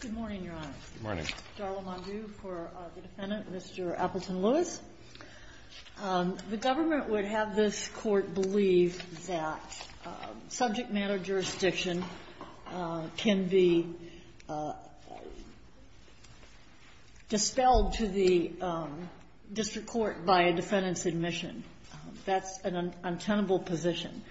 Good morning, Your Honor. Good morning. Darla Mondew for the Defendant, Mr. Appleton-Lewis. The government would have this Court believe that subject matter jurisdiction can be dispelled to the district court by a defendant's admission. That's an untenable position.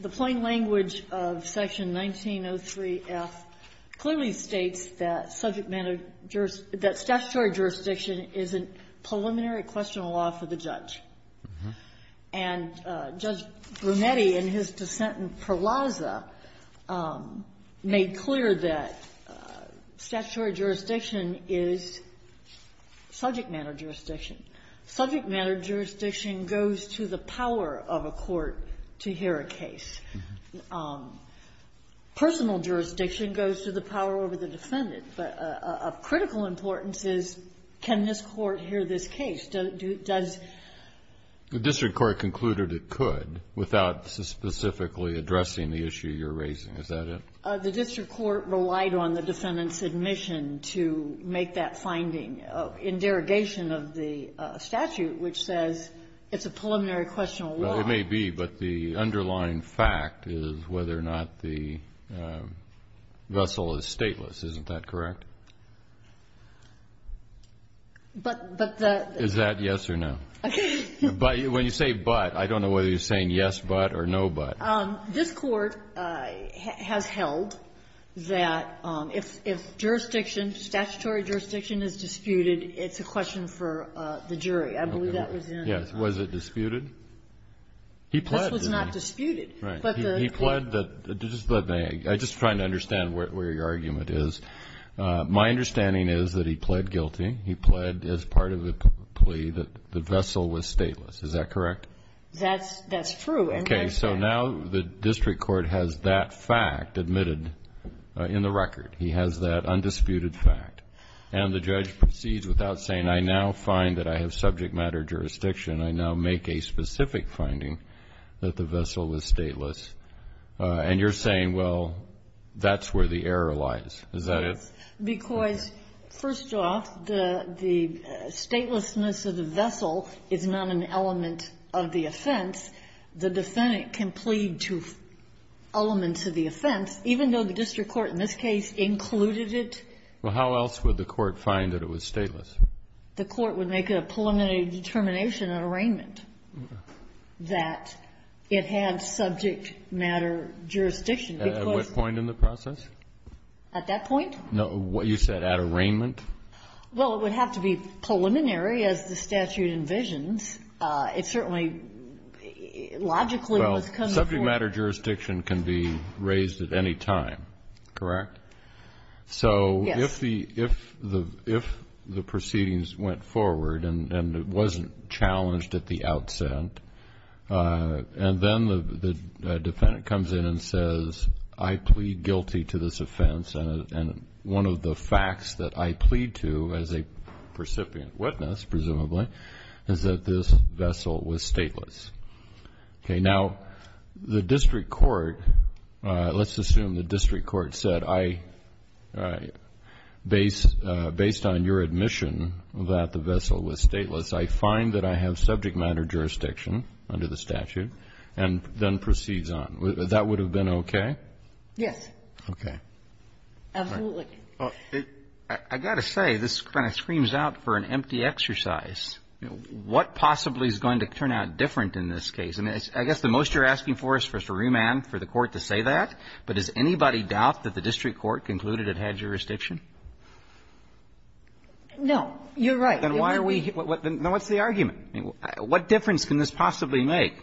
The plain language of Section 1903F clearly states that subject matter jurisdiction — that statutory jurisdiction is a preliminary question of law for the judge. And Judge Brunetti, in his dissent in Perlazza, made clear that statutory jurisdiction is subject matter jurisdiction. Subject matter jurisdiction goes to the power of a court to hear a case. Personal jurisdiction goes to the power over the defendant. But of critical importance is, can this Court hear this case? Does — The district court concluded it could without specifically addressing the issue you're raising. Is that it? The district court relied on the defendant's admission to make that finding in derogation of the statute, which says it's a preliminary question of law. It may be. But the underlying fact is whether or not the vessel is stateless. Isn't that correct? But the — Is that yes or no? But when you say but, I don't know whether you're saying yes, but, or no, but. This Court has held that if jurisdiction, statutory jurisdiction is disputed, it's a question for the jury. I believe that was in — Yes. Was it disputed? He pled. This was not disputed. Right. But the — He pled that — just let me — I'm just trying to understand where your argument is. My understanding is that he pled guilty. He pled as part of the plea that the vessel was stateless. Is that correct? That's true. And — Okay. So now the district court has that fact admitted in the record. He has that undisputed fact. And the judge proceeds without saying, I now find that I have subject matter jurisdiction. I now make a specific finding that the vessel was stateless. And you're saying, well, that's where the error lies. Is that it? Because, first off, the statelessness of the vessel is not an element of the offense. The defendant can plead to elements of the offense, even though the district court in this case included it. Well, how else would the Court find that it was stateless? The Court would make a preliminary determination at arraignment that it had subject matter jurisdiction because — At what point in the process? At that point? No. What you said, at arraignment? Well, it would have to be preliminary, as the statute envisions. It certainly logically must come before — Well, subject matter jurisdiction can be raised at any time, correct? Yes. If the proceedings went forward and it wasn't challenged at the outset, and then the defendant comes in and says, I plead guilty to this offense, and one of the facts that I plead to as a recipient witness, presumably, is that this vessel was stateless, okay? The district court — let's assume the district court said, I — based on your admission that the vessel was stateless, I find that I have subject matter jurisdiction under the statute, and then proceeds on. That would have been okay? Yes. Okay. Absolutely. I've got to say, this kind of screams out for an empty exercise. What possibly is going to turn out different in this case? I guess the most you're asking for is for us to remand for the Court to say that, but does anybody doubt that the district court concluded it had jurisdiction? No. You're right. Then why are we — what's the argument? What difference can this possibly make?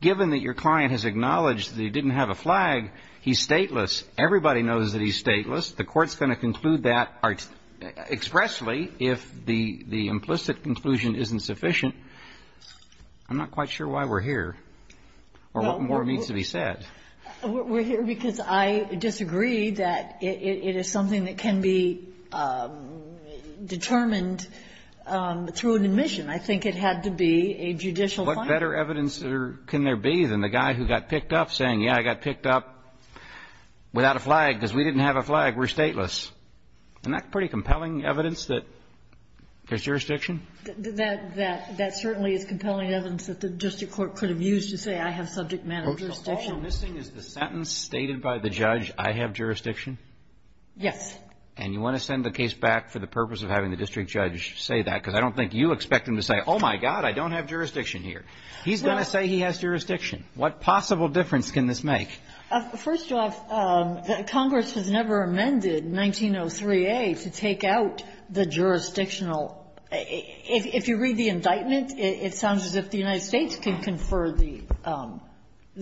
Given that your client has acknowledged that he didn't have a flag, he's stateless, everybody knows that he's stateless. The Court's going to conclude that expressly if the implicit conclusion isn't sufficient. I'm not quite sure why we're here or what more needs to be said. We're here because I disagree that it is something that can be determined through an admission. I think it had to be a judicial finding. What better evidence can there be than the guy who got picked up saying, yeah, I got picked up without a flag because we didn't have a flag, we're stateless? Isn't that pretty compelling evidence that there's jurisdiction? That certainly is compelling evidence that the district court could have used to say, I have subject matter jurisdiction. So all I'm missing is the sentence stated by the judge, I have jurisdiction? Yes. And you want to send the case back for the purpose of having the district judge say that, because I don't think you expect him to say, oh, my God, I don't have jurisdiction here. He's going to say he has jurisdiction. What possible difference can this make? First off, Congress has never amended 1903a to take out the jurisdictional If you read the indictment, it sounds as if the United States can confer the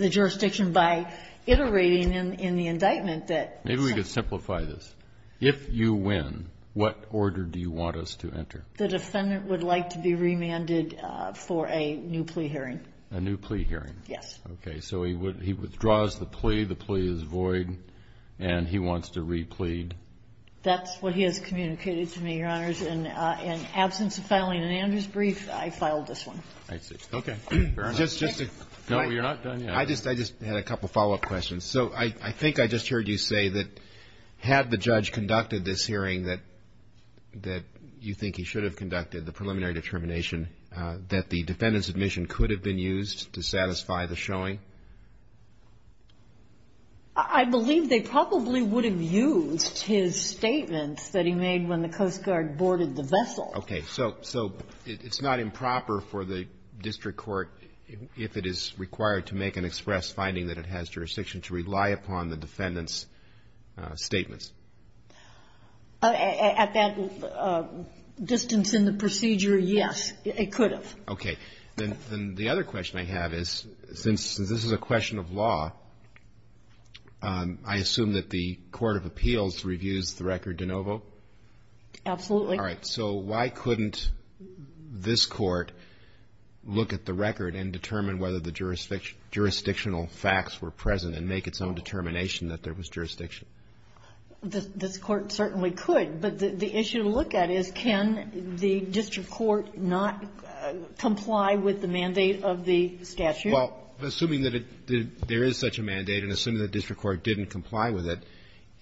jurisdiction by iterating in the indictment that Maybe we could simplify this. If you win, what order do you want us to enter? The defendant would like to be remanded for a new plea hearing. A new plea hearing. Yes. Okay. So he withdraws the plea, the plea is void, and he wants to re-plead. That's what he has communicated to me, Your Honors. In absence of filing an Andrews brief, I filed this one. I see. Okay. Fair enough. No, you're not done yet. I just had a couple follow-up questions. So I think I just heard you say that had the judge conducted this hearing that you think he should have conducted, the preliminary determination, that the defendant's admission could have been used to satisfy the showing? I believe they probably would have used his statements that he made when the Coast Guard boarded the vessel. Okay. So it's not improper for the district court, if it is required, to make an express finding that it has jurisdiction to rely upon the defendant's statements? At that distance in the procedure, yes, it could have. This is a question of law. I assume that the Court of Appeals reviews the record de novo? Absolutely. All right. So why couldn't this court look at the record and determine whether the jurisdictional facts were present and make its own determination that there was jurisdiction? This court certainly could. But the issue to look at is, can the district court not comply with the mandate of the statute? Well, assuming that it did, there is such a mandate, and assuming the district court didn't comply with it,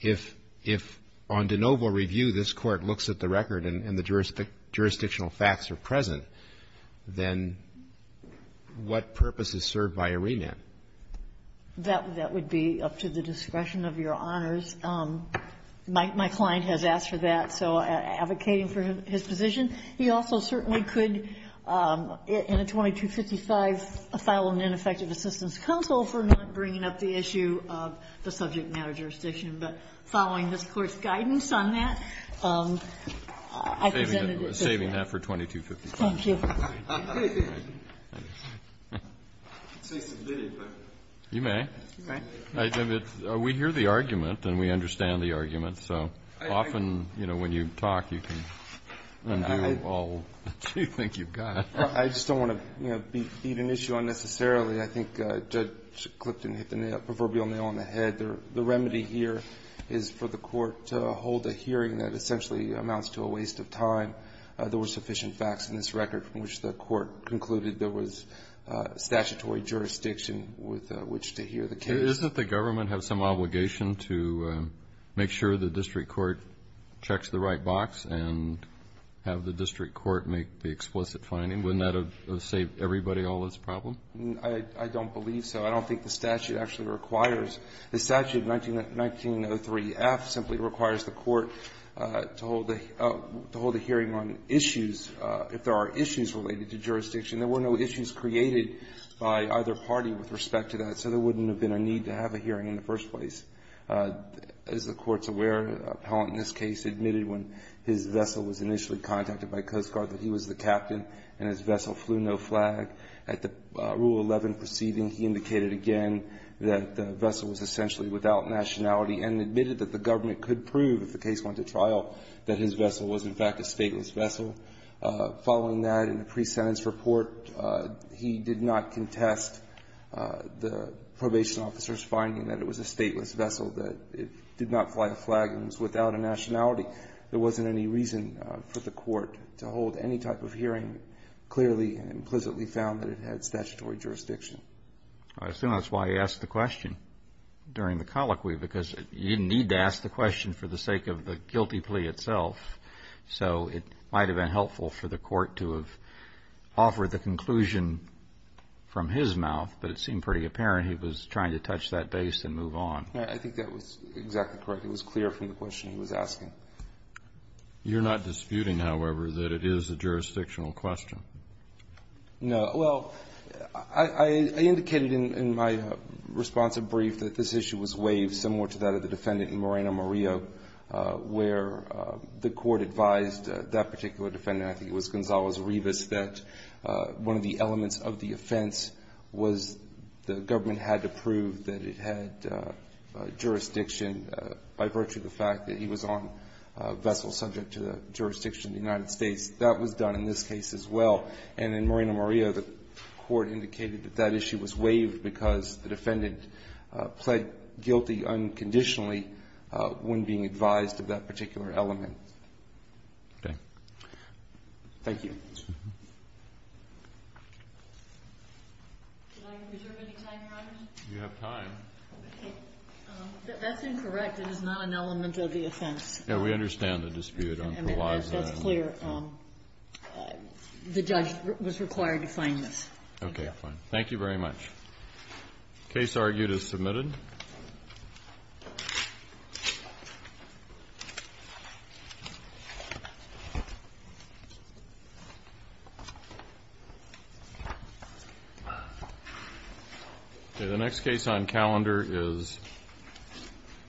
if on de novo review this court looks at the record and the jurisdictional facts are present, then what purpose is served by a remand? That would be up to the discretion of Your Honors. My client has asked for that, so I'm advocating for his position. He also certainly could, in a 2255, file an ineffective assistance counsel for not bringing up the issue of the subject matter jurisdiction. But following this Court's guidance on that, I presented it to him. Saving that for 2255. Thank you. I could say submitted, but. You may. All right. We hear the argument and we understand the argument, so often, you know, when you talk, you can undo all that you think you've got. I just don't want to, you know, beat an issue unnecessarily. I think Judge Clifton hit the proverbial nail on the head. The remedy here is for the court to hold a hearing that essentially amounts to a waste of time. There were sufficient facts in this record from which the court concluded there was statutory jurisdiction with which to hear the case. Doesn't the government have some obligation to make sure the district court checks the right box and have the district court make the explicit finding? Wouldn't that have saved everybody all this problem? I don't believe so. I don't think the statute actually requires. The statute 1903F simply requires the court to hold a hearing on issues, if there are issues related to jurisdiction. There were no issues created by either party with respect to that, so there wouldn't have been a need to have a hearing in the first place. As the court's aware, an appellant in this case admitted when his vessel was initially contacted by Coast Guard that he was the captain and his vessel flew no flag. At the Rule 11 proceeding, he indicated again that the vessel was essentially without nationality and admitted that the government could prove, if the case went to trial, that his vessel was, in fact, a stateless vessel. Following that, in the pre-sentence report, he did not contest the probation officer's statement that it was a stateless vessel, that it did not fly a flag, and it was without a nationality. There wasn't any reason for the court to hold any type of hearing, clearly and implicitly found that it had statutory jurisdiction. I assume that's why he asked the question during the colloquy, because he didn't need to ask the question for the sake of the guilty plea itself, so it might have been helpful for the court to have offered the conclusion from his mouth, but it seemed pretty apparent he was trying to touch that base and move on. I think that was exactly correct. It was clear from the question he was asking. You're not disputing, however, that it is a jurisdictional question? No. Well, I indicated in my response and brief that this issue was waived, similar to that of the defendant in Moreno, Maria, where the court advised that particular defendant, I think it was Gonzalez-Rivas, that one of the elements of the offense was the government had to prove that it had jurisdiction by virtue of the fact that he was on a vessel subject to the jurisdiction of the United States. That was done in this case as well. And in Moreno, Maria, the court indicated that that issue was waived because the defendant pled guilty unconditionally when being advised of that particular element. Okay. Thank you. Did I reserve any time, Your Honor? You have time. Okay. That's incorrect. It is not an element of the offense. Yeah. We understand the dispute. That's clear. The judge was required to find this. Okay. Fine. Thank you very much. Case argued as submitted. Okay. The next case on calendar is